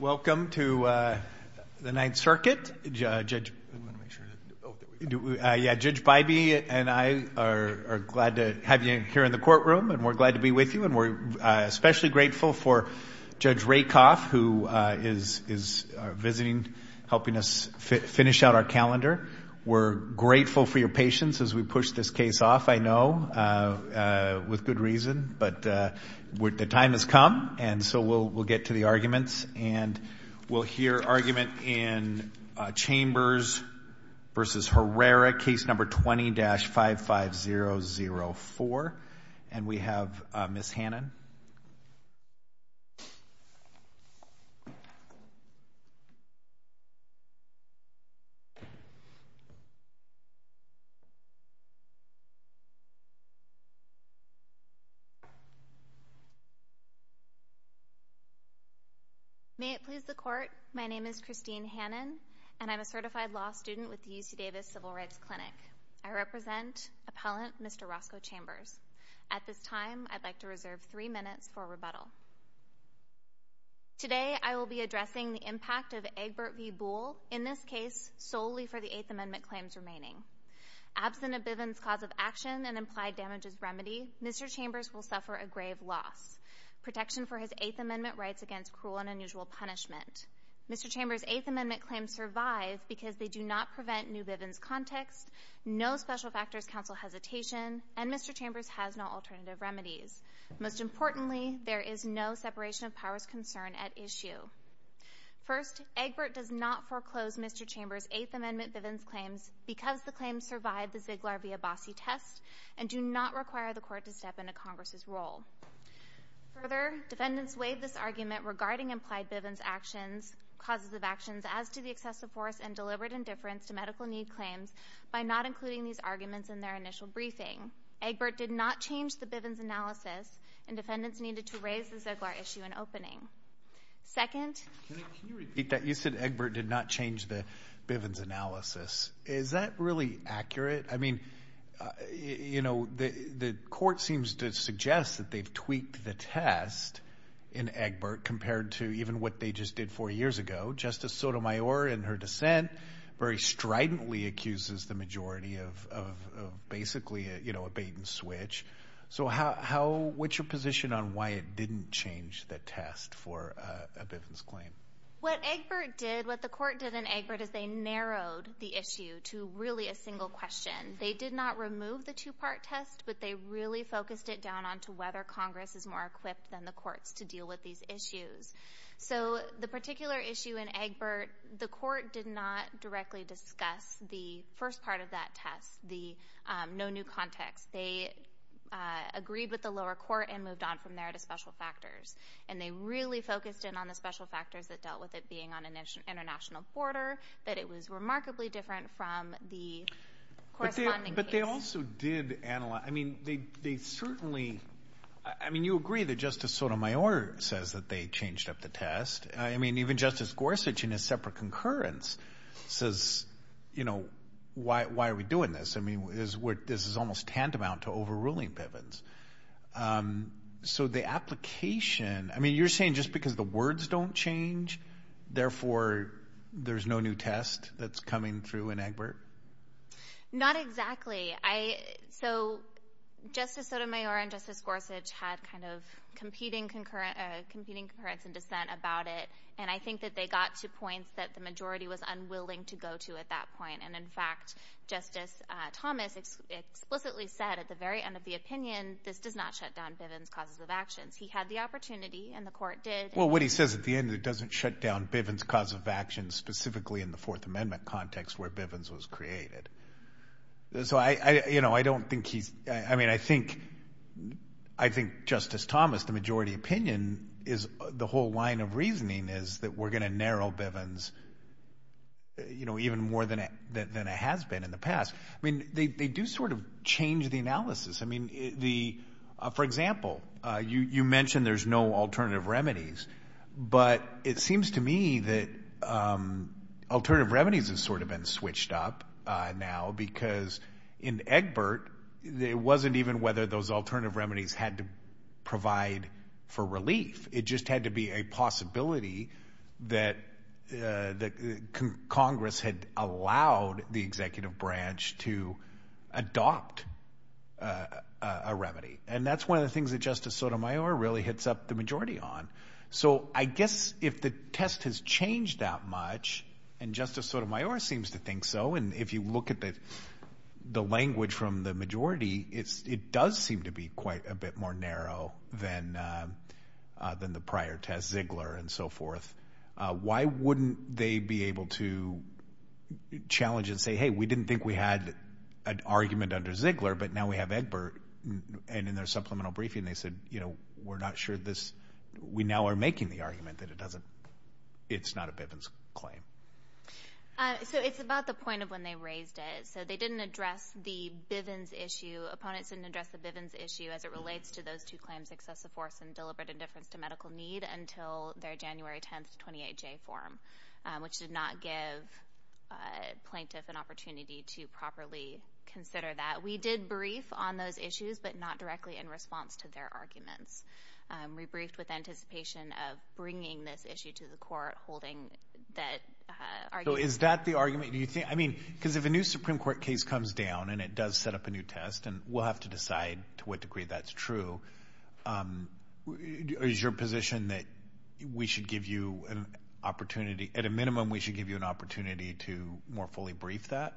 Welcome to the Ninth Circuit. Judge Bybee and I are glad to have you here in the courtroom, and we're glad to be with you, and we're especially grateful for Judge Rakoff, who is visiting, helping us finish out our calendar. We're grateful for your patience as we push this case off, I know, with good reason, but the time has come, and so we'll get to the arguments. And we'll hear argument in Chambers v. Herrera, case number 20-55004, and we have Ms. Hannon. May it please the Court, my name is Christine Hannon, and I'm a certified law student with the UC Davis Civil Rights Clinic. I represent Appellant Mr. Roscoe Chambers. At this time, I'd like to reserve three minutes for rebuttal. Today, I will be addressing the impact of Egbert v. Boole in this case solely for the Eighth Amendment claims remaining. Absent of Bivens cause of action and implied damages remedy, Mr. Chambers will suffer a grave loss. Protection for his Eighth Amendment rights against cruel and unusual punishment. Mr. Chambers' Eighth Amendment claims survive because they do not prevent new Bivens context, no special factors counsel hesitation, and Mr. Chambers has no alternative remedies. Most importantly, there is no separation of powers concern at issue. First, Egbert does not foreclose Mr. Chambers' Eighth Amendment Bivens claims because the claims survive the Ziegler v. Abbassi test and do not require the Court to step into Congress's role. Further, defendants weighed this argument regarding implied Bivens actions, causes of actions as to the excessive force and deliberate indifference to medical need claims by not including these arguments in their initial briefing. Egbert did not change the Bivens analysis, and defendants needed to raise the Ziegler issue in opening. Second — Can you repeat that? You said Egbert did not change the Bivens analysis. Is that really accurate? I mean, you know, the Court seems to suggest that they've tweaked the test in Egbert compared to even what they just did four years ago. Justice Sotomayor, in her dissent, very stridently accuses the majority of basically, you know, a bait-and-switch. So how — what's your position on why it didn't change the test for a Bivens claim? What Egbert did, what the Court did in Egbert is they narrowed the issue to really a single question. They did not remove the two-part test, but they really focused it down onto whether Congress is more equipped than the courts to deal with these issues. So the particular issue in Egbert, the Court did not directly discuss the first part of that test, the context. They agreed with the lower court and moved on from there to special factors. And they really focused in on the special factors that dealt with it being on an international border, but it was remarkably different from the corresponding case. But they also did analyze — I mean, they certainly — I mean, you agree that Justice Sotomayor says that they changed up the test. I mean, even Justice Gorsuch in his separate concurrence says, you know, why are we doing this? I mean, this is almost tantamount to overruling Bivens. So the application — I mean, you're saying just because the words don't change, therefore there's no new test that's coming through in Egbert? Not exactly. I — so Justice Sotomayor and Justice Gorsuch had kind of competing concurrence and dissent about it, and I think that they got to points that the majority was unwilling to go to at that point. And in fact, Justice Thomas explicitly said at the very end of the opinion, this does not shut down Bivens' causes of actions. He had the opportunity, and the Court did. Well, what he says at the end, it doesn't shut down Bivens' cause of actions, specifically in the Fourth Amendment context where Bivens was created. So I — you know, I don't think he's — I mean, I think Justice Thomas, the majority opinion is — the whole line of reasoning is that we're going to narrow Bivens, you know, even more than it has been in the past. I mean, they do sort of change the analysis. I mean, the — for example, you mentioned there's no alternative remedies, but it seems to me that alternative remedies have sort of been switched up now because in Egbert, it wasn't even whether those alternative remedies had to provide for relief. It just had to be a possibility that Congress had allowed the executive branch to adopt a remedy. And that's one of the things that Justice Sotomayor really hits up the majority on. So I guess if the test has changed that much, and Justice Sotomayor seems to think so, and if you look at the language from the majority, it does seem to be quite a bit more narrow than the prior test, Ziegler and so forth. Why wouldn't they be able to challenge and say, hey, we didn't think we had an argument under Ziegler, but now we have Egbert, and in their supplemental briefing they said, you know, we're not sure this — we now are making the argument that it doesn't — it's not a Bivens claim. So it's about the point of when they raised it. So they didn't address the Bivens issue. Opponents didn't address the Bivens issue as it relates to those two claims, excessive force and deliberate indifference to medical need, until their January 10th 28J form, which did not give plaintiff an opportunity to properly consider that. We did brief on those issues, but not directly in response to their arguments. We briefed with anticipation of bringing this issue to the court, holding that argument — So is that the argument? Do you think — I mean, because if a new Supreme Court case comes down and it does set up a new test, and we'll have to decide to what degree that's true, is your position that we should give you an opportunity — at a more fully briefed that?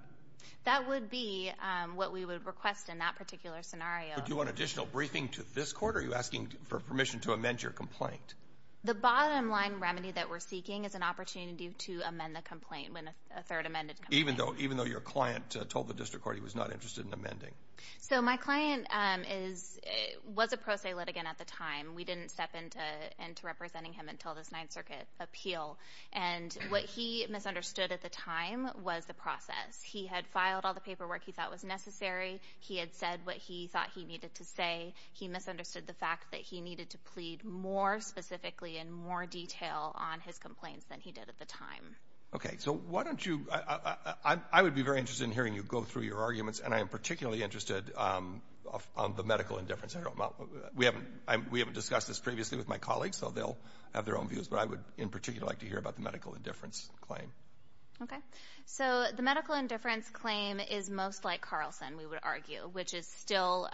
That would be what we would request in that particular scenario. Would you want additional briefing to this court, or are you asking for permission to amend your complaint? The bottom line remedy that we're seeking is an opportunity to amend the complaint when a third amended complaint. Even though your client told the district court he was not interested in amending? So my client is — was a pro se litigant at the time. We didn't step into representing him until this Ninth Circuit appeal. And what he misunderstood at the time was the process. He had filed all the paperwork he thought was necessary. He had said what he thought he needed to say. He misunderstood the fact that he needed to plead more specifically and more detail on his complaints than he did at the time. Okay. So why don't you — I would be very interested in hearing you go through your arguments, and I am particularly interested on the medical indifference. We haven't — we haven't discussed this previously with my colleagues, so they'll have their own views, but I would in particular like to hear about the medical indifference claim. Okay. So the medical indifference claim is most like Carlson, we would argue, which is still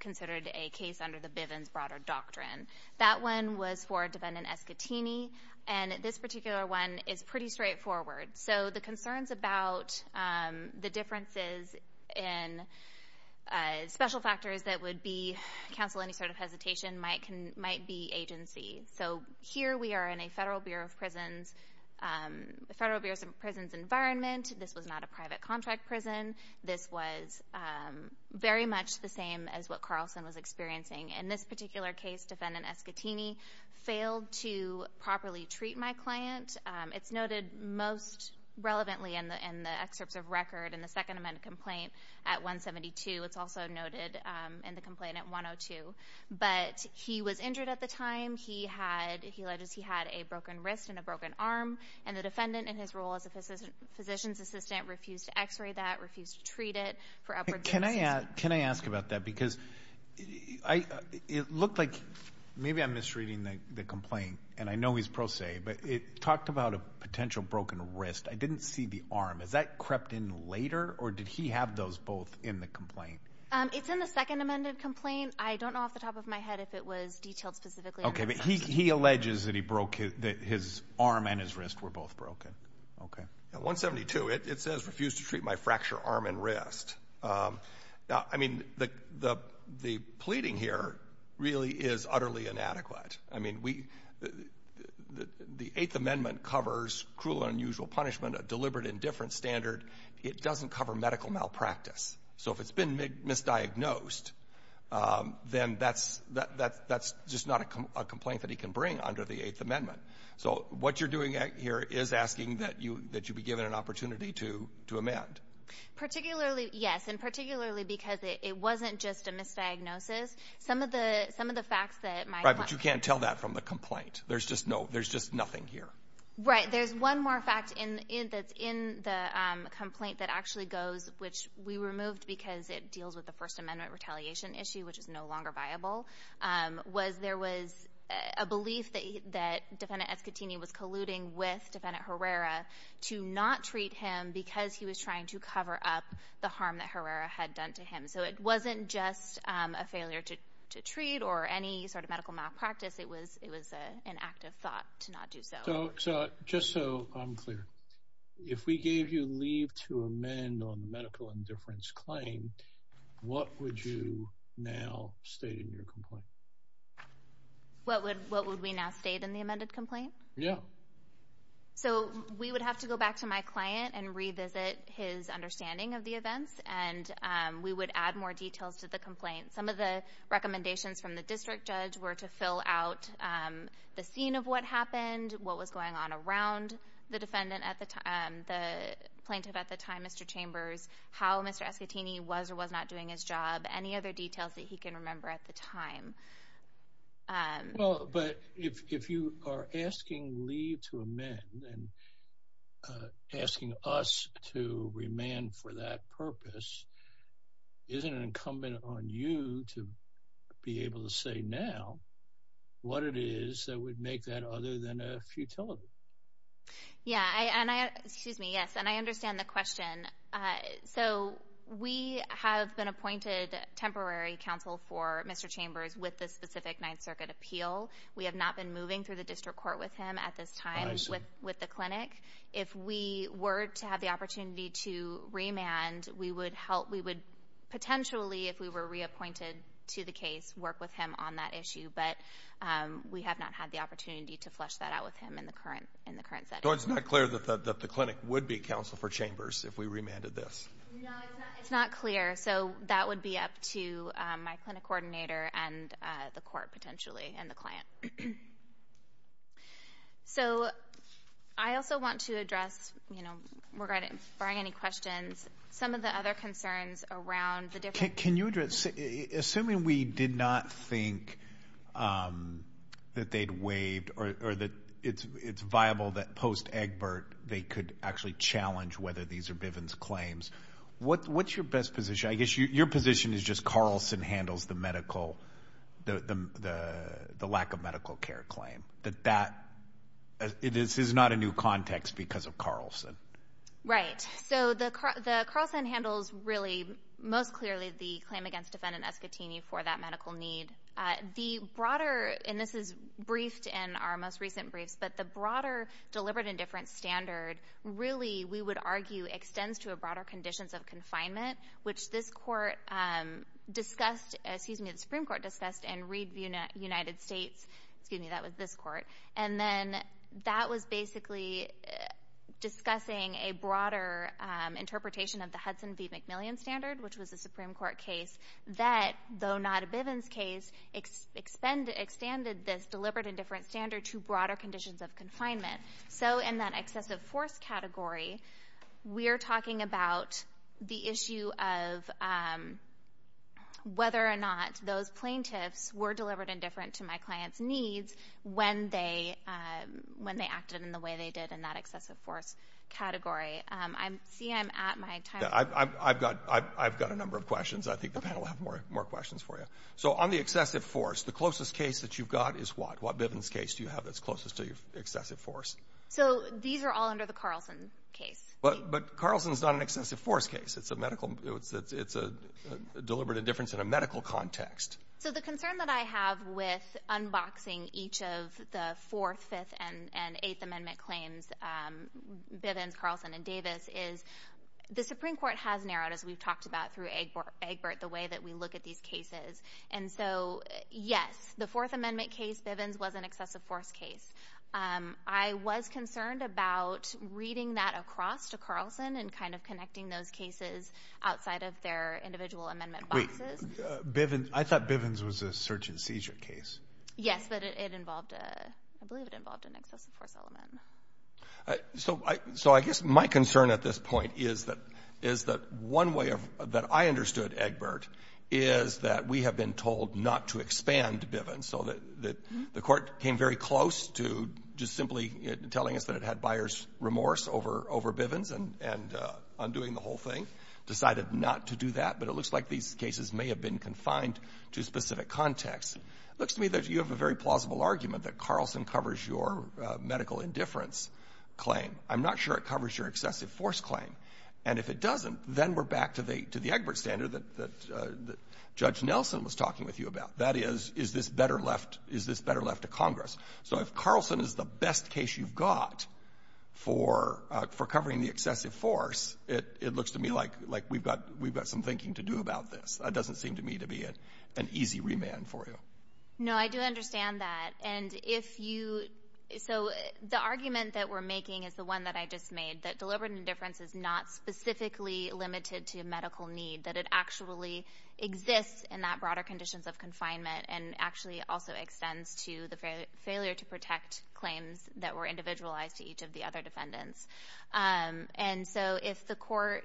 considered a case under the Bivens broader doctrine. That one was for defendant Escatini, and this particular one is pretty straightforward. So the concerns about the differences in special factors that would be — cancel any sort of hesitation — might be agency. So here we are in a Federal Bureau of Prisons environment. This was not a private contract prison. This was very much the same as what Carlson was experiencing. In this particular case, defendant Escatini failed to properly treat my client. It's noted most relevantly in the excerpts of record in the Second Amendment complaint at 172. It's also noted in the complaint at 102. But he was injured at the time. He had — he alleged he had a broken wrist and a broken arm, and the defendant in his role as a physician's assistant refused to x-ray that, refused to treat it for upward — Can I — can I ask about that? Because I — it looked like — maybe I'm misreading the complaint, and I know he's pro se, but it talked about a potential broken wrist. I didn't see the arm. Is that crept in later, or did he have those both in the complaint? It's in the Second Amendment complaint. I don't know off the top of my head if it was detailed specifically — Okay, but he alleges that he broke — that his arm and his wrist were both broken. Okay. At 172, it says refused to treat my fracture arm and wrist. I mean, the pleading here really is utterly inadequate. I mean, we — the Eighth Amendment covers cruel and unusual punishment, a deliberate indifference standard. It doesn't cover medical malpractice. So if it's been misdiagnosed, then that's — that's just not a complaint that he can bring under the Eighth Amendment. So what you're doing here is asking that you — that you be given an opportunity to — to amend. Particularly — yes, and particularly because it wasn't just a misdiagnosis. Some of the — some of the facts that my — Right, but you can't tell that from the complaint. There's just no — there's just nothing here. Right. There's one more fact in — that's in the complaint that actually goes — which we removed because it deals with the First Amendment retaliation issue, which is no longer viable — was there was a belief that — that Defendant Escutini was colluding with Defendant Herrera to not treat him because he was trying to cover up the harm that Herrera had done to him. So it wasn't just a failure to — to treat or any sort of medical malpractice. It was — it was an act of thought to not do so. So — so just so I'm clear, if we gave you leave to amend on the medical indifference claim, what would you now state in your complaint? What would — what would we now state in the amended complaint? Yeah. So we would have to go back to my client and revisit his understanding of the events, and we would add more details as to how the district judge were to fill out the scene of what happened, what was going on around the defendant at the time — the plaintiff at the time Mr. Chambers, how Mr. Escutini was or was not doing his job, any other details that he can remember at the time. Well but if you are asking leave to amend and asking us to remand for that purpose, isn't it incumbent on you to be able to say now what it is that would make that other than a futility? Yeah and I, excuse me, yes and I understand the question. So we have been appointed temporary counsel for Mr. Chambers with the specific Ninth Circuit appeal. We have not been moving through the district court with him at this time with the clinic. If we were to have the opportunity to remand, we would help, we would potentially if we were reappointed to the case, work with him on that issue. But we have not had the opportunity to flesh that out with him in the current, in the current setting. So it's not clear that the clinic would be counsel for Chambers if we remanded this? No it's not, it's not clear. So that would be to my clinic coordinator and the court potentially and the client. So I also want to address, you know, regarding, barring any questions, some of the other concerns around the different. Can you address, assuming we did not think that they'd waived or that it's, it's viable that post-Agbert they could actually challenge whether these are Bivens claims, what's your best position? I guess your position is just Carlson handles the medical, the lack of medical care claim. That that, this is not a new context because of Carlson. Right, so the Carlson handles really most clearly the claim against defendant Escotini for that medical need. The broader, and this is briefed in our most recent briefs, but the broader deliberate indifference standard really, we would argue, extends to a broader conditions of confinement, which this court discussed, excuse me, the Supreme Court discussed in Reed United States, excuse me, that was this court. And then that was basically discussing a broader interpretation of the Hudson v. McMillian standard, which was a Supreme Court case that, though not a Bivens case, extended this deliberate indifference standard to broader conditions of confinement. So in that excessive force category, we're talking about the issue of whether or not those plaintiffs were deliberate indifferent to my client's needs when they, when they acted in the way they did in that excessive force category. I see I'm at my time. I've, I've, I've got, I've, I've got a number of questions. I think the panel will have more, more questions for you. So on the excessive force, the closest case that you've got is what, Bivens case do you have that's closest to your excessive force? So these are all under the Carlson case. But, but Carlson's not an excessive force case. It's a medical, it's, it's a deliberate indifference in a medical context. So the concern that I have with unboxing each of the Fourth, Fifth, and, and Eighth Amendment claims, Bivens, Carlson, and Davis, is the Supreme Court has narrowed, as we've talked about through Egbert, the way that we look at these cases. And so, yes, the Fourth Amendment case, Bivens, was an excessive force case. I was concerned about reading that across to Carlson and kind of connecting those cases outside of their individual amendment boxes. Wait, Bivens, I thought Bivens was a search and seizure case. Yes, but it involved a, I believe it involved an excessive force element. So I, so I guess my concern at this point is that, is that one way of, that I understood Egbert is that we have been told not to expand Bivens. So that, that the Court came very close to just simply telling us that it had buyer's remorse over, over Bivens and, and undoing the whole thing, decided not to do that. But it looks like these cases may have been confined to specific contexts. It looks to me that you have a very plausible argument that Carlson covers your medical indifference claim. I'm not sure it covers your excessive force claim. And if it doesn't, then we're back to the, to the Egbert standard that, that, that Judge Nelson was talking with you about. That is, is this better left, is this better left to Congress? So if Carlson is the best case you've got for, for covering the excessive force, it, it looks to me like, like we've got, we've got some thinking to do about this. It doesn't seem to me to be an easy remand for you. No, I do understand that. And if you, so the argument that we're making is the one that I just made, that deliberate indifference is not specifically limited to medical need, that it actually exists in that broader conditions of confinement, and actually also extends to the failure to protect claims that were individualized to each of the other defendants. And so if the court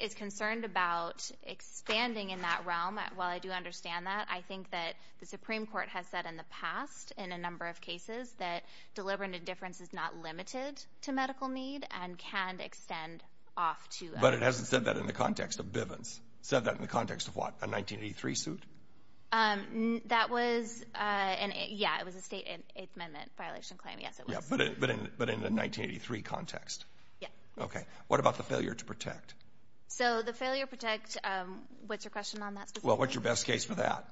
is concerned about expanding in that realm, while I do understand that, I think that the Supreme Court has said in the past, in a number of cases, that deliberate indifference is not limited to medical need, and can extend off to... But it hasn't said that in the context of Bivens. Said that in the context of what, a 1983 suit? That was an, yeah, it was a state, an Eighth Amendment violation claim, yes, it was. Yeah, but in, but in, but in the 1983 context? Yeah. Okay. What about the failure to protect? So the failure to protect, what's your question on that specifically? Well, what's your best case for that?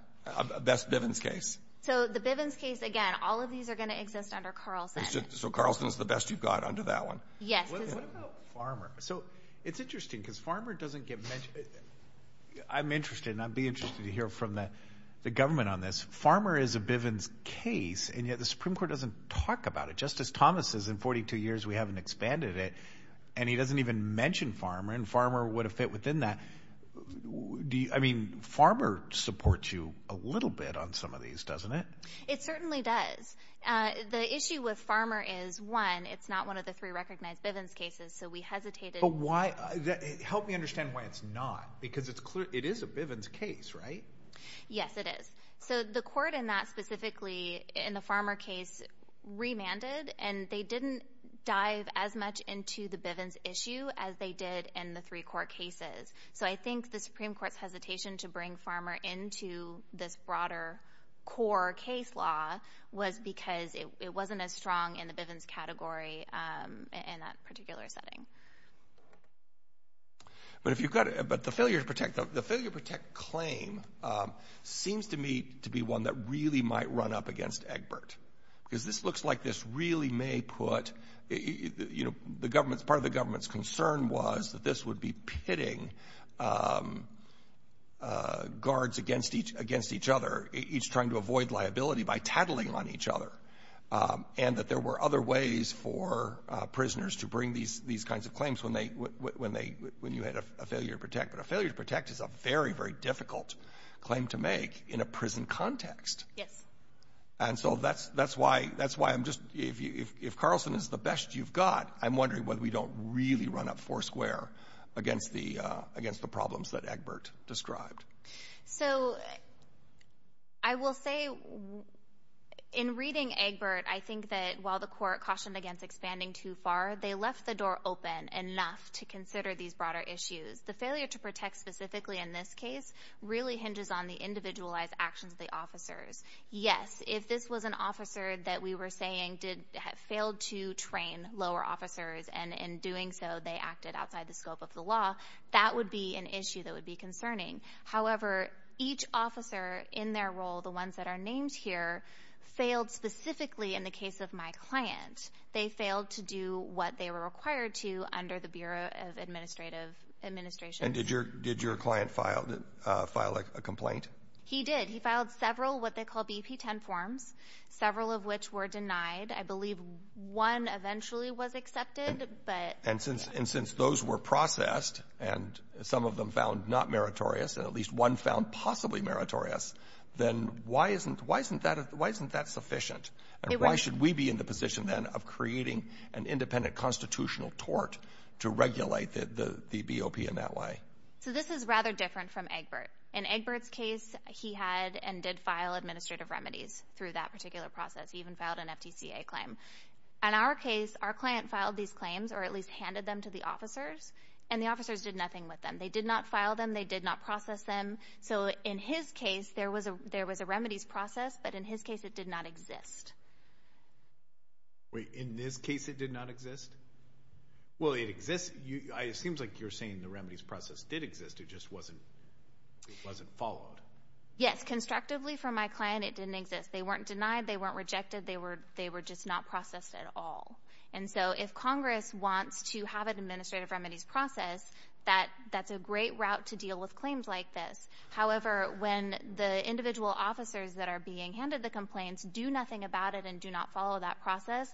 Best Bivens case? So the Bivens case, again, all of these are going to exist under Carlson. So Carlson's the best you've got under that one? Yes. What about Farmer? So it's interesting, because Farmer doesn't get mentioned. I'm interested, and I'd be interested to hear from the government on this. Farmer is a Bivens case, and yet the Supreme Court doesn't talk about it. Justice Thomas says in 42 years, we haven't expanded it, and he doesn't even mention Farmer, and Farmer would have fit within that. Do you, I mean, Farmer supports you a little bit on some of these, doesn't it? It certainly does. The issue with Farmer is, one, it's not one of the three recognized Bivens cases, so we hesitated. But why, help me understand why it's not, because it's clear, it is a Bivens case, right? Yes, it is. So the court in that specifically, in the Farmer case, remanded, and they didn't dive as much into the Bivens issue as they did in the three court cases. So I think the Supreme Court's hesitation to bring Farmer into this broader core case law was because it wasn't as strong in the Bivens category in that particular setting. But if you've got, but the failure to protect, the failure to protect claim seems to me to be one that really might run up against Egbert, because this looks like this really may put, you know, the government's, the government's concern was that this would be pitting guards against each other, each trying to avoid liability by tattling on each other, and that there were other ways for prisoners to bring these kinds of claims when they, when you had a failure to protect. But a failure to protect is a very, very difficult claim to make in a prison context. Yes. And so that's why I'm just, if Carlson is the best you've got, I'm wondering whether we don't really run up four square against the problems that Egbert described. So I will say in reading Egbert, I think that while the court cautioned against expanding too far, they left the door open enough to consider these broader issues. The failure to protect specifically in this case really hinges on the individualized actions of the officers. Yes. If this was an officer that we were saying did, failed to train lower officers and in doing so they acted outside the scope of the law, that would be an issue that would be concerning. However, each officer in their role, the ones that are named here, failed specifically in the case of my client. They failed to do what they were required to under the Bureau of Administrative Administration. And did your, did your client file, file a complaint? He did. He filed several, what they call BP 10 forms, several of which were denied. I believe one eventually was accepted, but. And since, and since those were processed and some of them found not meritorious, and at least one found possibly meritorious, then why isn't, why isn't that, why isn't that sufficient and why should we be in the position then of creating an independent constitutional tort to regulate the BOP in that way? So this is rather different from Egbert. In Egbert's case, he had and did file administrative remedies through that particular process. He even filed an FTCA claim. In our case, our client filed these claims, or at least handed them to the officers, and the officers did nothing with them. They did not file them. They did not process them. So in his case, there was a, there was a remedies process, but in his case, it did not exist. Wait, in this case, it did not exist? Well, it exists. It seems like you're saying the remedies process did exist. It just wasn't, it wasn't followed. Yes, constructively for my client, it didn't exist. They weren't denied. They weren't rejected. They were, they were just not processed at all. And so if Congress wants to have an administrative remedies process, that, that's a great route to deal with claims like this. However, when the individual officers that are being handed the complaints do nothing about it and do not follow that process,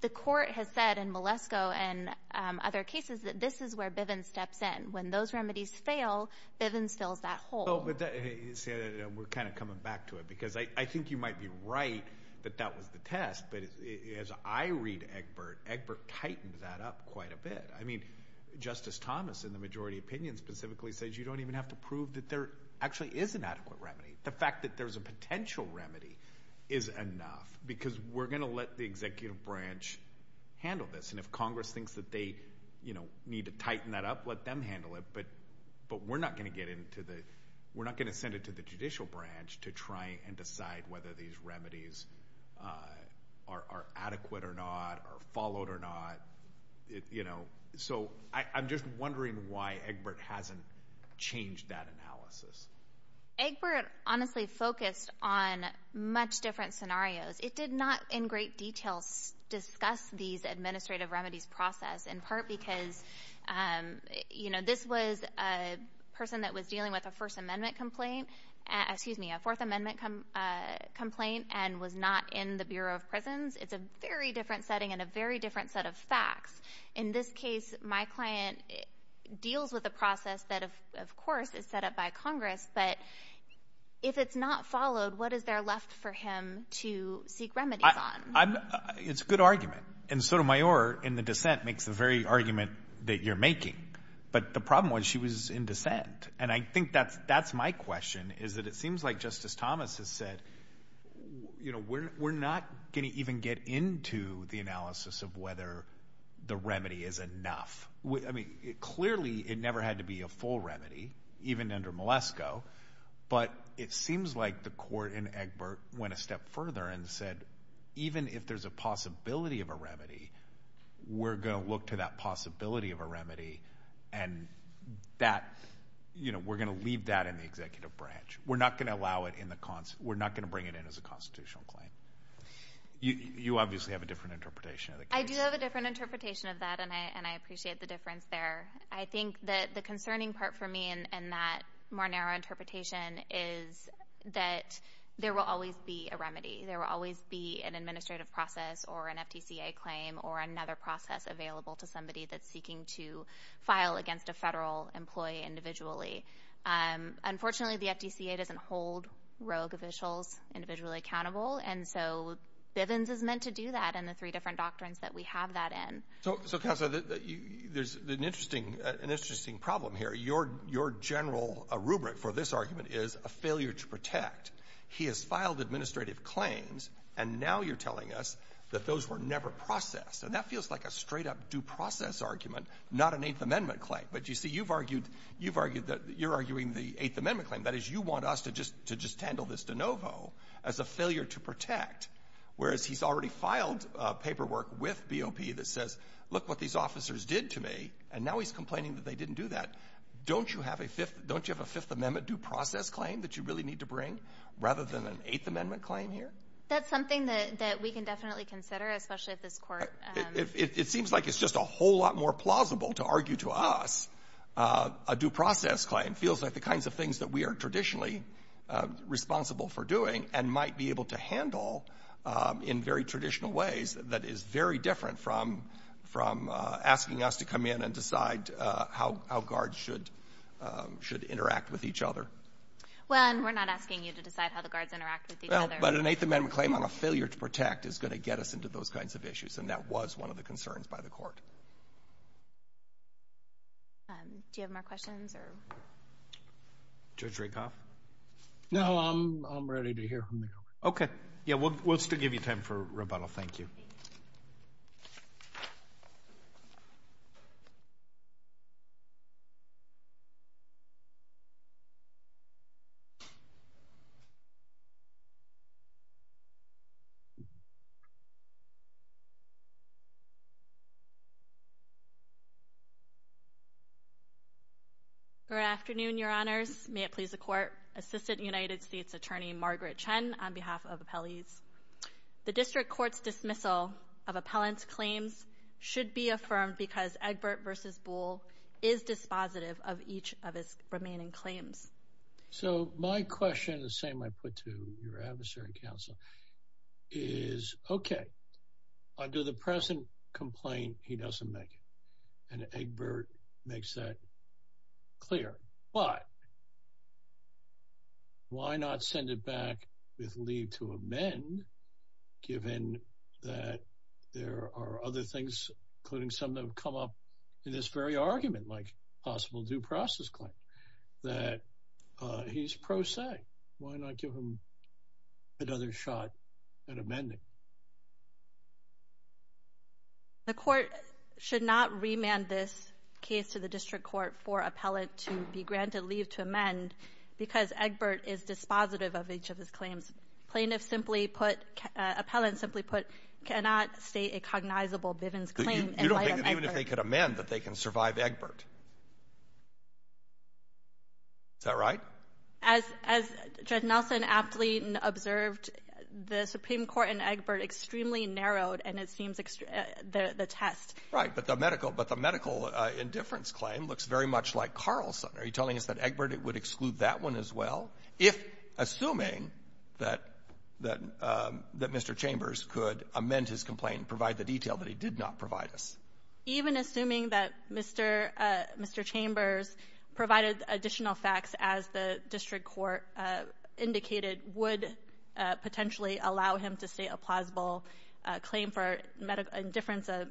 the court has said in Malesko and other cases that this is where Bivens steps in. When those remedies fail, Bivens fills that hole. We're kind of coming back to it because I think you might be right that that was the test, but as I read Egbert, Egbert tightened that up quite a bit. I mean, Justice Thomas, in the majority opinion, specifically says you don't even have to prove that there actually is an adequate remedy. The fact that there's a potential remedy is enough because we're going to let the executive branch handle this. And if Congress thinks that they, you know, need to tighten that up, let them handle it. But, but we're not going to get into the, we're not going to send it to the judicial branch to try and decide whether these remedies are adequate or not, are followed or not. You know, so I'm just wondering why Egbert hasn't changed that analysis. Egbert honestly focused on much different scenarios. It did not in great detail discuss these administrative remedies process, in part because, you know, this was a person that was dealing with a First Amendment complaint, excuse me, a Fourth Amendment complaint, and was not in the Bureau of Prisons. It's a very different setting and a very different set of facts. In this case, my client deals with a process that of course is set up by Congress, but if it's not followed, what is there left for him to seek remedies on? It's a good argument. And Sotomayor in the dissent makes the very argument that you're making, but the problem was she was in dissent. And I think that's, that's my question, is that it seems like Justice Thomas has said, you know, we're not going to even get into the analysis of whether the remedy is enough. I mean, clearly it never had to be a full remedy, even under Malesko, but it seems like the court in Egbert went a step further and said, even if there's a possibility of a remedy, we're going to look to that possibility of a remedy and that, you know, we're going to leave that in the executive branch. We're not going to allow it in the, we're not going to bring it in as a constitutional claim. You obviously have a different interpretation of the case. I do have a different interpretation of that, and I appreciate the difference there. I think that the concerning part for me in that more narrow interpretation is that there will always be a remedy. There will always be an administrative process or an FTCA claim or another process available to somebody that's seeking to file against a federal employee individually. Unfortunately, the FTCA doesn't hold rogue officials individually accountable, and so Bivens is meant to do that in the three different doctrines that we have that in. So, so Counselor, there's an interesting, Your, your general rubric for this argument is a failure to protect. He has filed administrative claims, and now you're telling us that those were never processed. And that feels like a straight-up due process argument, not an Eighth Amendment claim. But, you see, you've argued, you've argued that you're arguing the Eighth Amendment claim. That is, you want us to just, to just handle this de novo as a failure to protect, whereas he's already filed paperwork with BOP that says, look what these officers did to me, and now he's complaining that they didn't do that. Don't you have a Fifth, don't you have a Fifth Amendment due process claim that you really need to bring rather than an Eighth Amendment claim here? That's something that we can definitely consider, especially at this court. It seems like it's just a whole lot more plausible to argue to us a due process claim. It feels like the kinds of things that we are traditionally responsible for doing and might be able to handle in very traditional ways that is very different from, from asking us to come in and decide how guards should, should interact with each other. Well, and we're not asking you to decide how the guards interact with each other. But an Eighth Amendment claim on a failure to protect is going to get us into those kinds of issues, and that was one of the concerns by the court. Do you have more questions or? Judge Rakoff? No, I'm, I'm ready to hear from you. Okay. Yeah, we'll, we'll still give you time for rebuttal. Thank you. Good afternoon, your honors. May it please the court. Assistant United States Attorney Margaret Chen on behalf of appellees. The district court's dismissal of appellant's claims should be affirmed because Egbert v. Bull is dispositive of each of his remaining claims. So my question, the same I put to your adversary counsel, is, okay, under the present complaint, he doesn't make it. And Egbert makes that clear. But why not send it back with leave to amend, given that there are other things, including some that have come up in this very argument, like possible due process claim, that he's pro se? Why not give him another shot at amending? The court should not remand this case to the district court for appellant to be granted leave to amend because Egbert is dispositive of each of his claims. Plaintiff simply put, appellant simply put, cannot state a cognizable Bivens claim. You don't think that even if they could amend that they can survive Egbert? Is that right? As Judge Nelson aptly observed, the Supreme Court and Egbert extremely narrowed, and it seems the test. Right, but the medical, but the medical indifference claim looks very much like Carlson. Are you telling us that Egbert would exclude that one as well, if, assuming that Mr. Chambers could amend his complaint and provide the detail that he did not provide us? Even assuming that Mr. Chambers provided additional facts, as the district court indicated, would potentially allow him to state a plausible claim for medical indifference, a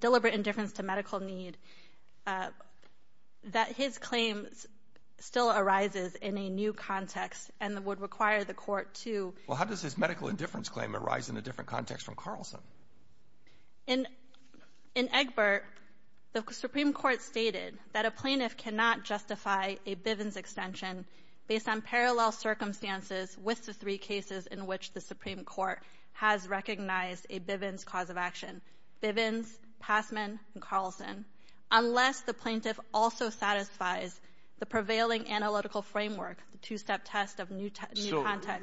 deliberate indifference to medical need, that his claims still arises in a new context and would require the court to. Well, how does this medical indifference claim arise in a different context from Carlson? In Egbert, the Supreme Court stated that a plaintiff cannot justify a Bivens extension based on parallel circumstances with the three cases in which the Supreme Court has recognized a Bivens cause of action, Bivens, Passman, and Carlson, unless the plaintiff also satisfies the prevailing analytical framework, the two-step test of new context.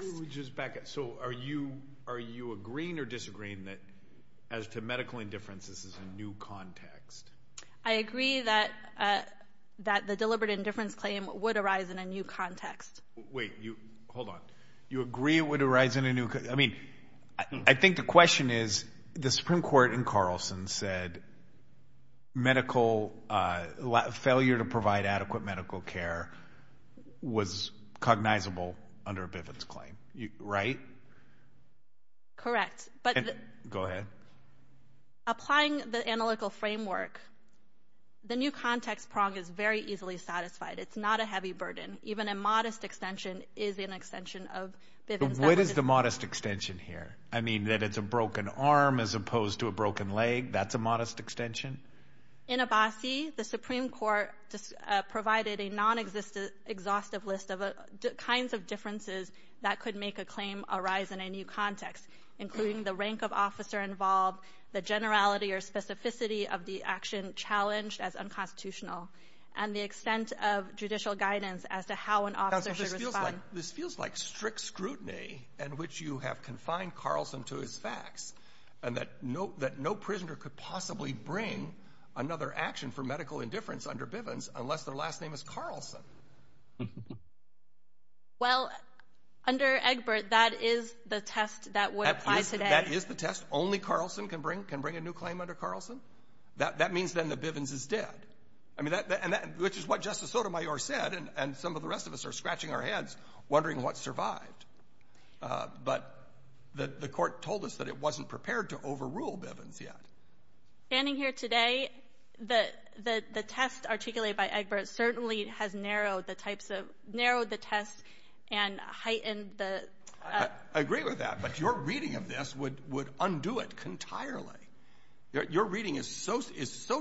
So, let me just back up. So, are you agreeing or disagreeing that as to medical indifference, this is a new context? I agree that the deliberate indifference claim would arise in a new context. Wait, you, hold on. You agree it would arise in a new, I mean, I think the question is, the Supreme Court in Carlson said medical, failure to provide adequate medical care was cognizable under a Bivens claim, right? Correct, but- Go ahead. Applying the analytical framework, the new context prong is very easily satisfied. It's not a heavy burden. Even a modest extension is an extension of Bivens. What is the modest extension here? I mean, that it's a broken arm as opposed to a broken leg. That's a modest extension? In Abbasi, the Supreme Court provided a non-exhaustive list of kinds of differences that could make a claim arise in a new context, including the rank of officer involved, the generality or specificity of the action challenged as unconstitutional, and the extent of judicial guidance as to how an officer should respond. This feels like strict scrutiny in which you have confined Carlson to his facts and that no prisoner could possibly bring another action for medical indifference under Bivens unless their last name is Carlson. Well, under Egbert, that is the test that would apply today. That is the test. Only Carlson can bring a new claim under Carlson. That means then the Bivens is dead, which is what Justice Sotomayor said, and some of the rest of us are scratching our heads, wondering what survived. But the court told us that it wasn't prepared to overrule Bivens yet. Standing here today, the test articulated by Egbert certainly has narrowed the tests and heightened the... I agree with that, but your reading of this would undo it entirely. Your reading is so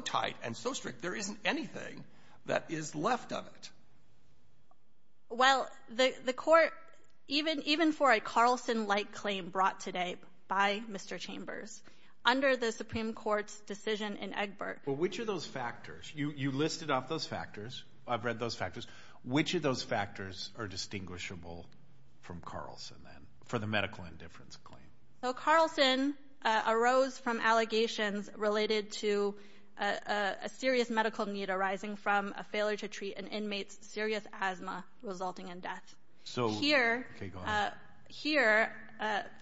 tight and so strict, there isn't anything that is left of it. Well, the court, even for a Carlson-like claim brought today by Mr. Chambers, under the Supreme Court's decision in Egbert... Well, which of those factors? You listed off those factors. I've read those factors. Which of those factors are distinguishable from Carlson then for the medical indifference claim? So Carlson arose from allegations related to a serious medical need arising from a failure to treat an inmate's serious asthma resulting in death. So here,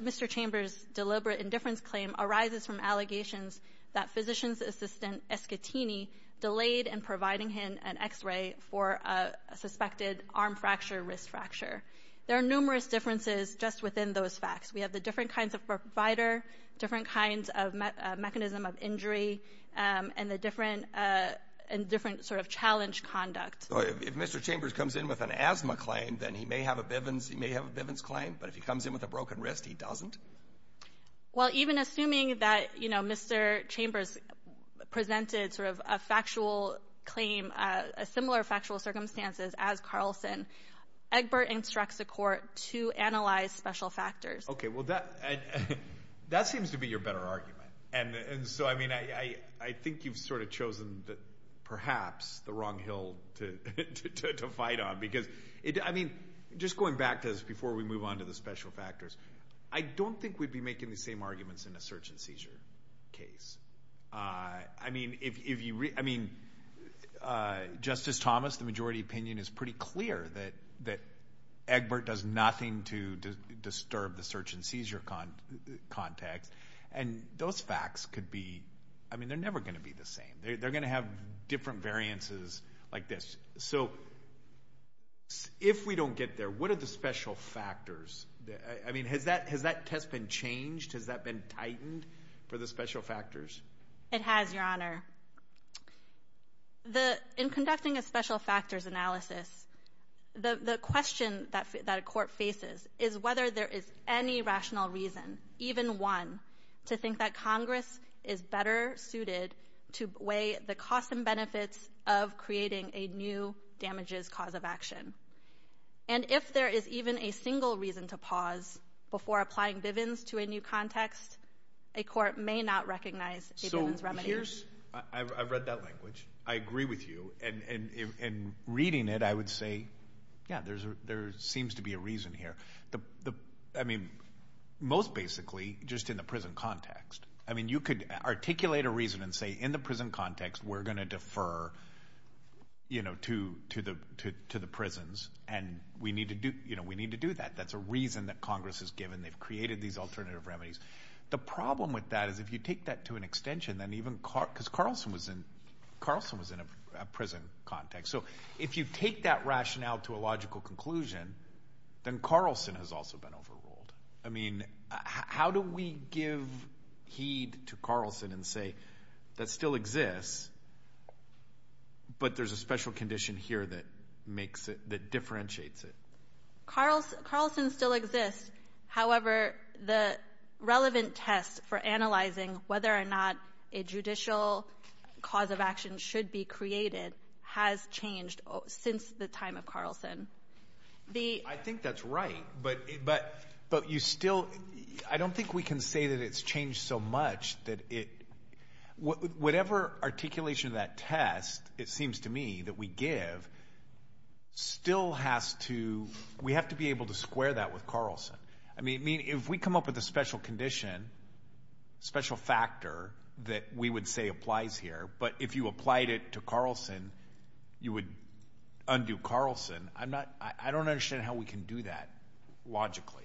Mr. Chambers' deliberate indifference claim arises from allegations that physician's assistant, Escatini, delayed in providing him an x-ray for a suspected arm fracture, wrist fracture. There are numerous differences just within those facts. We have the different kinds of provider, different kinds of mechanism of injury, and the different sort of challenge conduct. If Mr. Chambers comes in with an asthma claim, then he may have a Bivens claim, but if he comes in with a broken wrist, he doesn't? Well, even assuming that Mr. Chambers presented sort of a factual claim, a similar factual circumstances as Carlson, Egbert instructs the court to analyze special factors. Okay, well, that seems to be your better argument. And so, I mean, I think you've sort of chosen perhaps the wrong hill to fight on. Because, I mean, just going back to this before we move on to the special factors, I don't think we'd be making the same arguments in a search and seizure case. I mean, Justice Thomas, the majority opinion is pretty clear that Egbert does nothing to disturb the search and seizure context. And those facts could be, I mean, they're never gonna be the same. They're gonna have different variances like this. So if we don't get there, what are the special factors? I mean, has that test been changed? Has that been tightened for the special factors? It has, Your Honor. In conducting a special factors analysis, the question that a court faces is whether there is any rational reason, even one, to think that Congress is better suited to weigh the costs and benefits of creating a new damages cause of action. And if there is even a single reason to pause before applying Bivens to a new context, a court may not recognize a Bivens remedy. So here's, I've read that language. I agree with you. And in reading it, I would say, yeah, there seems to be a reason here. I mean, most basically, just in the prison context. I mean, you could articulate a reason and say, in the prison context, we're gonna defer to the prisons and we need to do that. That's a reason that Congress has given. They've created these alternative remedies. The problem with that is if you take that to an extension, then even, because Carlson was in a prison context. So if you take that rationale to a logical conclusion, then Carlson has also been overruled. I mean, how do we give heed to Carlson and say that still exists, but there's a special condition here that makes it, that differentiates it? Carlson still exists. However, the relevant test for analyzing whether or not a judicial cause of action should be created has changed since the time of Carlson. I think that's right. But you still, I don't think we can say that it's changed so much that it, whatever articulation of that test, it seems to me that we give, still has to, we have to be able to square that with Carlson. I mean, if we come up with a special condition, special factor that we would say applies here, but if you applied it to Carlson, you would undo Carlson. I'm not, I don't understand how we can do that. Logically.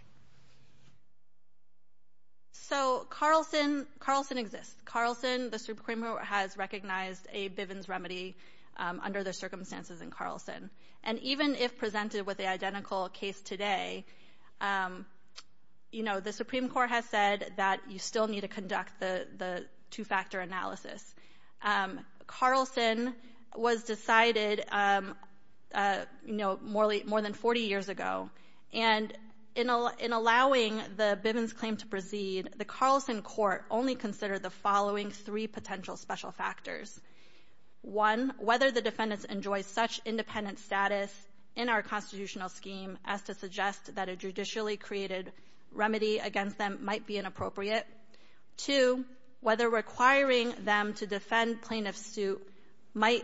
So Carlson, Carlson exists. Carlson, the Supreme Court has recognized a Bivens remedy under the circumstances in Carlson. And even if presented with the identical case today, you know, the Supreme Court has said that you still need to conduct the two-factor analysis. Carlson was decided, you know, more than 40 years ago. And in allowing the Bivens claim to proceed, the Carlson court only considered the following three potential special factors. One, whether the defendants enjoy such independent status in our constitutional scheme as to suggest that a judicially created remedy against them might be inappropriate. Two, whether requiring them to defend plaintiff's suit might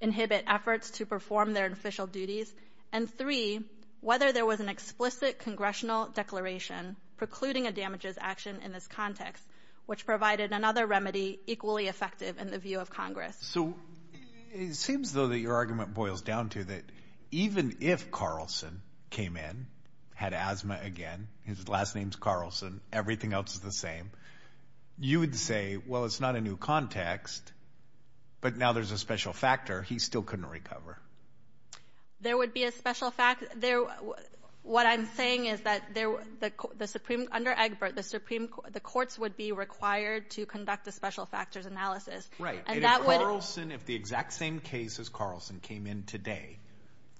inhibit efforts to perform their official duties. And three, whether there was an explicit congressional declaration precluding a damages action in this context, which provided another remedy equally effective in the view of Congress. So it seems though that your argument boils down to that even if Carlson came in, had asthma again, his last name's Carlson, everything else is the same, you would say, well, it's not a new context, but now there's a special factor he still couldn't recover. There would be a special fact, there, what I'm saying is that there, the Supreme, under Egbert, the Supreme, the courts would be required to conduct a special factors analysis. Right, and if Carlson, if the exact same case as Carlson came in today,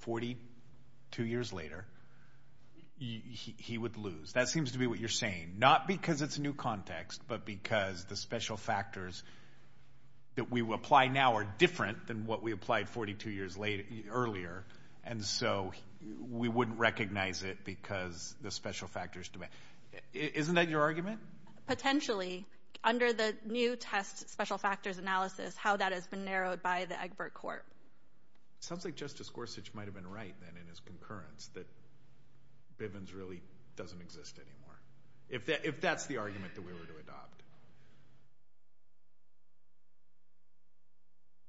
42 years later, he would lose. That seems to be what you're saying. Not because it's a new context, but because the special factors that we apply now are different than what we applied 42 years earlier, and so we wouldn't recognize it because the special factors demand. Isn't that your argument? Potentially, under the new test special factors analysis, how that has been narrowed by the Egbert court. It sounds like Justice Gorsuch might have been right then in his concurrence that Bivens really doesn't exist anymore, if that's the argument that we were to adopt.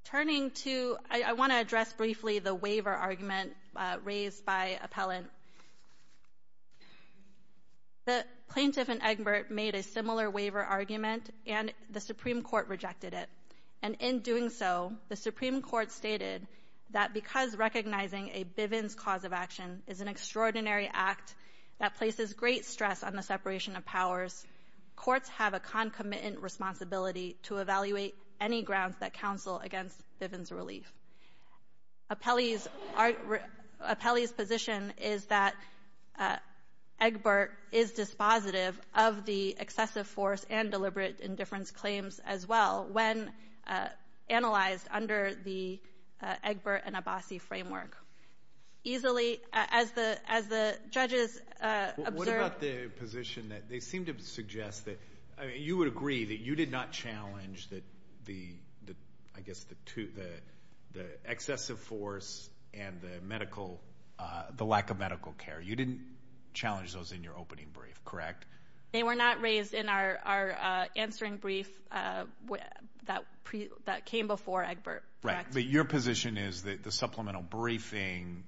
Turning to, I want to address briefly the waiver argument raised by appellant. The plaintiff in Egbert made a similar waiver argument and the Supreme Court rejected it, and in doing so, the Supreme Court stated that because recognizing a Bivens cause of action is an extraordinary act that places great stress on the separation of powers, courts have a concomitant responsibility to evaluate any grounds that counsel against Bivens' relief. Appellee's position is that Egbert is dispositive of the excessive force and deliberate indifference claims as well when analyzed under the Egbert and Abbasi framework. Easily, as the judges observed- What about the position that they seem to suggest you would agree that you did not challenge I guess the excessive force and the lack of medical care. You didn't challenge those in your opening brief, correct? They were not raised in our answering brief that came before Egbert. Right, but your position is that the supplemental briefing,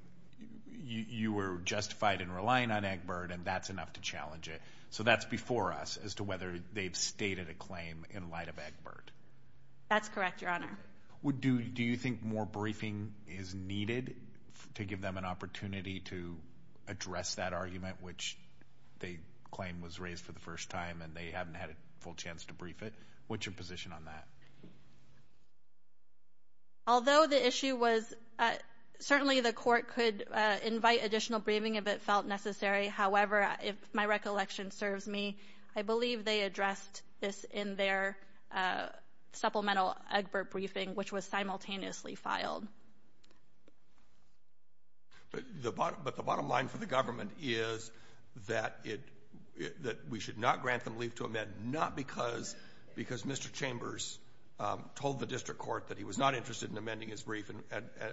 you were justified in relying on Egbert and that's enough to challenge it. So that's before us as to whether they've stated a claim in light of Egbert. That's correct, Your Honor. Do you think more briefing is needed to give them an opportunity to address that argument, which they claim was raised for the first time and they haven't had a full chance to brief it? What's your position on that? Although the issue was, certainly the court could invite additional briefing if it felt necessary. However, if my recollection serves me, I believe they addressed this in their supplemental Egbert briefing, which was simultaneously filed. But the bottom line for the government is that we should not grant them leave to amend, not because Mr. Chambers told the district court that he was not interested in amending his brief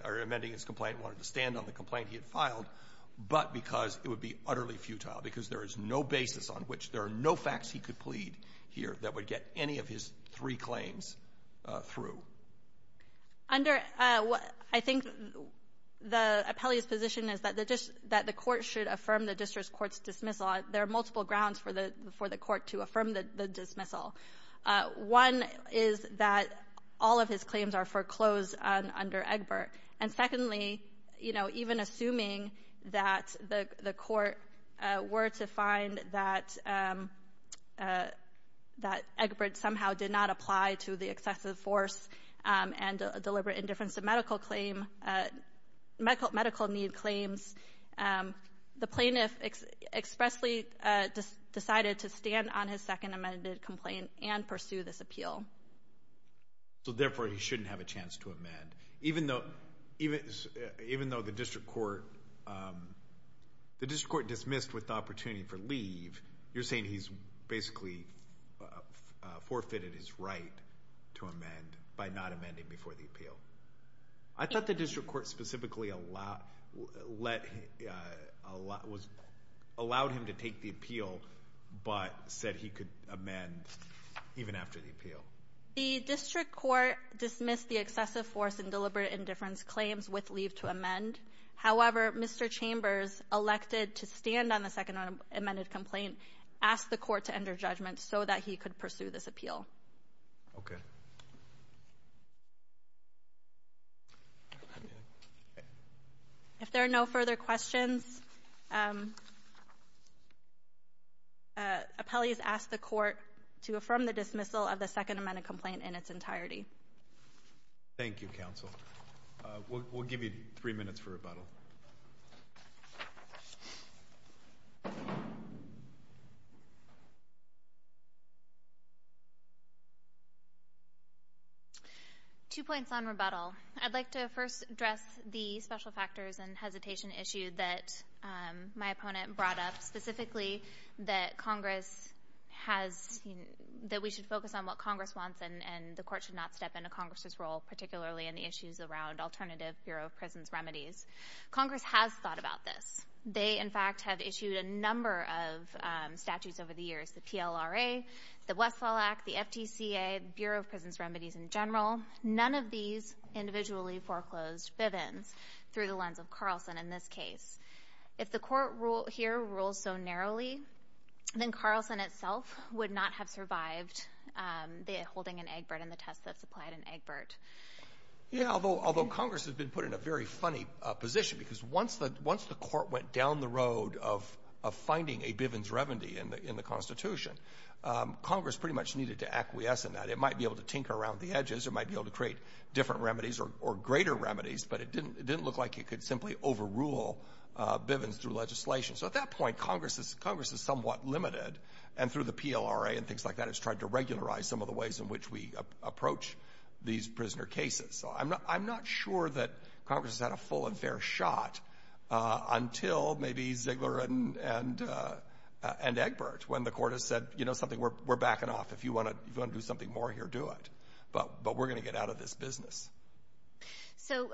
or amending his complaint, wanted to stand on the complaint he had filed, but because it would be utterly futile because there is no basis on which there are no facts he could plead here that would get any of his three claims through. Under, I think the appellee's position is that the court should affirm the district court's dismissal. There are multiple grounds for the court to affirm the dismissal. One is that all of his claims are foreclosed under Egbert. And secondly, you know, even assuming that the court were to find that Egbert somehow did not apply to the excessive force and deliberate indifference to medical claim, medical need claims, the plaintiff expressly decided to stand on his second amended complaint and pursue this appeal. So therefore, he shouldn't have a chance to amend, even though the district court dismissed with the opportunity for leave, you're saying he's basically forfeited his right to amend by not amending before the appeal. I thought the district court specifically allowed him to take the appeal, but said he could amend even after the appeal. The district court dismissed the excessive force and deliberate indifference claims with leave to amend. However, Mr. Chambers elected to stand on the second amended complaint, asked the court to enter judgment so that he could pursue this appeal. Okay. If there are no further questions, appellees ask the court to affirm the dismissal of the second amended complaint in its entirety. Thank you, counsel. We'll give you three minutes for rebuttal. Two points on rebuttal. I'd like to first address the special factors and hesitation issue that my opponent brought up, specifically that Congress has, that we should focus on what Congress wants and the court should not step into Congress's role, particularly in the issues around alternative Bureau of Prisons remedies. Congress has thought about this. They, in fact, have issued a number of statutes over the years, the PLRA, the Westfall Act, the FTCA, Bureau of Prisons Remedies in general. None of these individually foreclosed Bivens through the lens of Carlson in this case. If the court here rules so narrowly, then Carlson itself would not have survived holding an Egbert in the test that supplied an Egbert. Yeah, although Congress has been put in a very funny position because once the court went down the road of finding a Bivens revenue in the Constitution, Congress pretty much needed to acquiesce in that. It might be able to tinker around the edges. It might be able to create different remedies or greater remedies, but it didn't look like it could simply overrule Bivens through legislation. So at that point, Congress is somewhat limited, and through the PLRA and things like that, it's tried to regularize some of the ways in which we approach these prisoner cases. So I'm not sure that Congress has had a full and fair shot until maybe Ziegler and Egbert, when the court has said, you know something, we're backing off. If you want to do something more here, do it. But we're going to get out of this business. So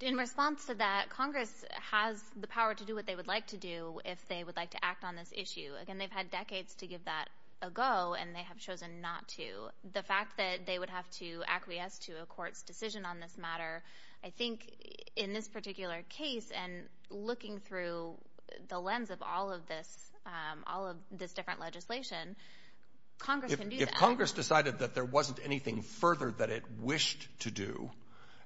in response to that, Congress has the power to do what they would like to do, if they would like to act on this issue. Again, they've had decades to give that a go, and they have chosen not to. The fact that they would have to acquiesce to a court's decision on this matter, I think in this particular case, and looking through the lens of all of this, all of this different legislation, Congress can do that. If Congress decided that there wasn't anything further that it wished to do,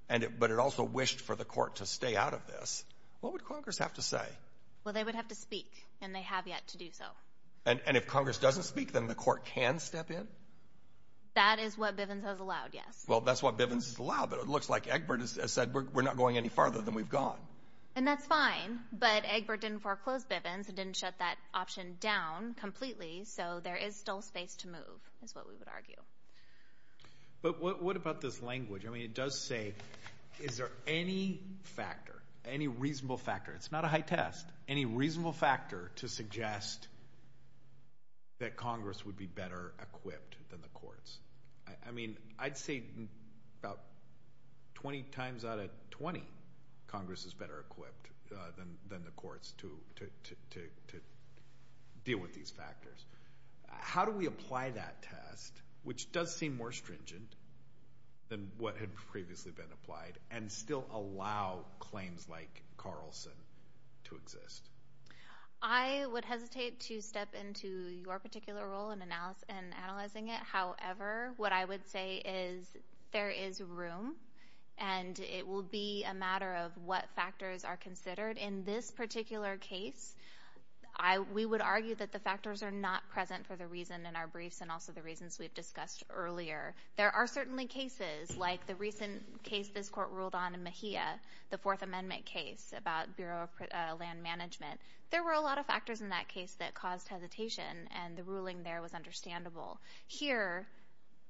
but it also wished for the court to stay out of this, what would Congress have to say? Well, they would have to speak, and they have yet to do so. And if Congress doesn't speak, then the court can step in? That is what Bivens has allowed, yes. Well, that's what Bivens has allowed, but it looks like Egbert has said, we're not going any farther than we've gone. And that's fine, but Egbert didn't foreclose Bivens, and didn't shut that option down completely. So there is still space to move, is what we would argue. But what about this language? I mean, it does say, is there any factor, any reasonable factor? It's not a high test. Any reasonable factor to suggest that Congress would be better equipped than the courts? I mean, I'd say about 20 times out of 20, Congress is better equipped than the courts to deal with these factors. How do we apply that test, which does seem more stringent than what had previously been applied, and still allow claims like Carlson, to exist? I would hesitate to step into your particular role in analyzing it. However, what I would say is, there is room, and it will be a matter of what factors are considered. In this particular case, we would argue that the factors are not present for the reason in our briefs, and also the reasons we've discussed earlier. There are certainly cases, like the recent case this court ruled on in Mejia, the Fourth Amendment case about Bureau of Land Management. There were a lot of factors in that case that caused hesitation, and the ruling there was understandable. Here,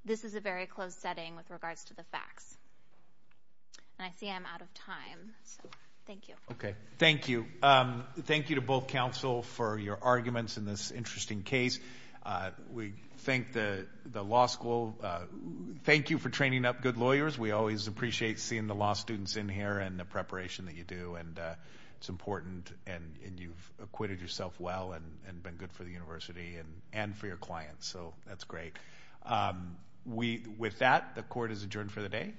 this is a very closed setting with regards to the facts. And I see I'm out of time. So, thank you. Okay, thank you. Thank you to both counsel for your arguments in this interesting case. We thank the law school. Thank you for training up good lawyers. We always appreciate seeing the law students in here, and the preparation that you do. And it's important, and you've acquitted yourself well, and been good for the university, and for your clients. So, that's great. With that, the court is adjourned for the day.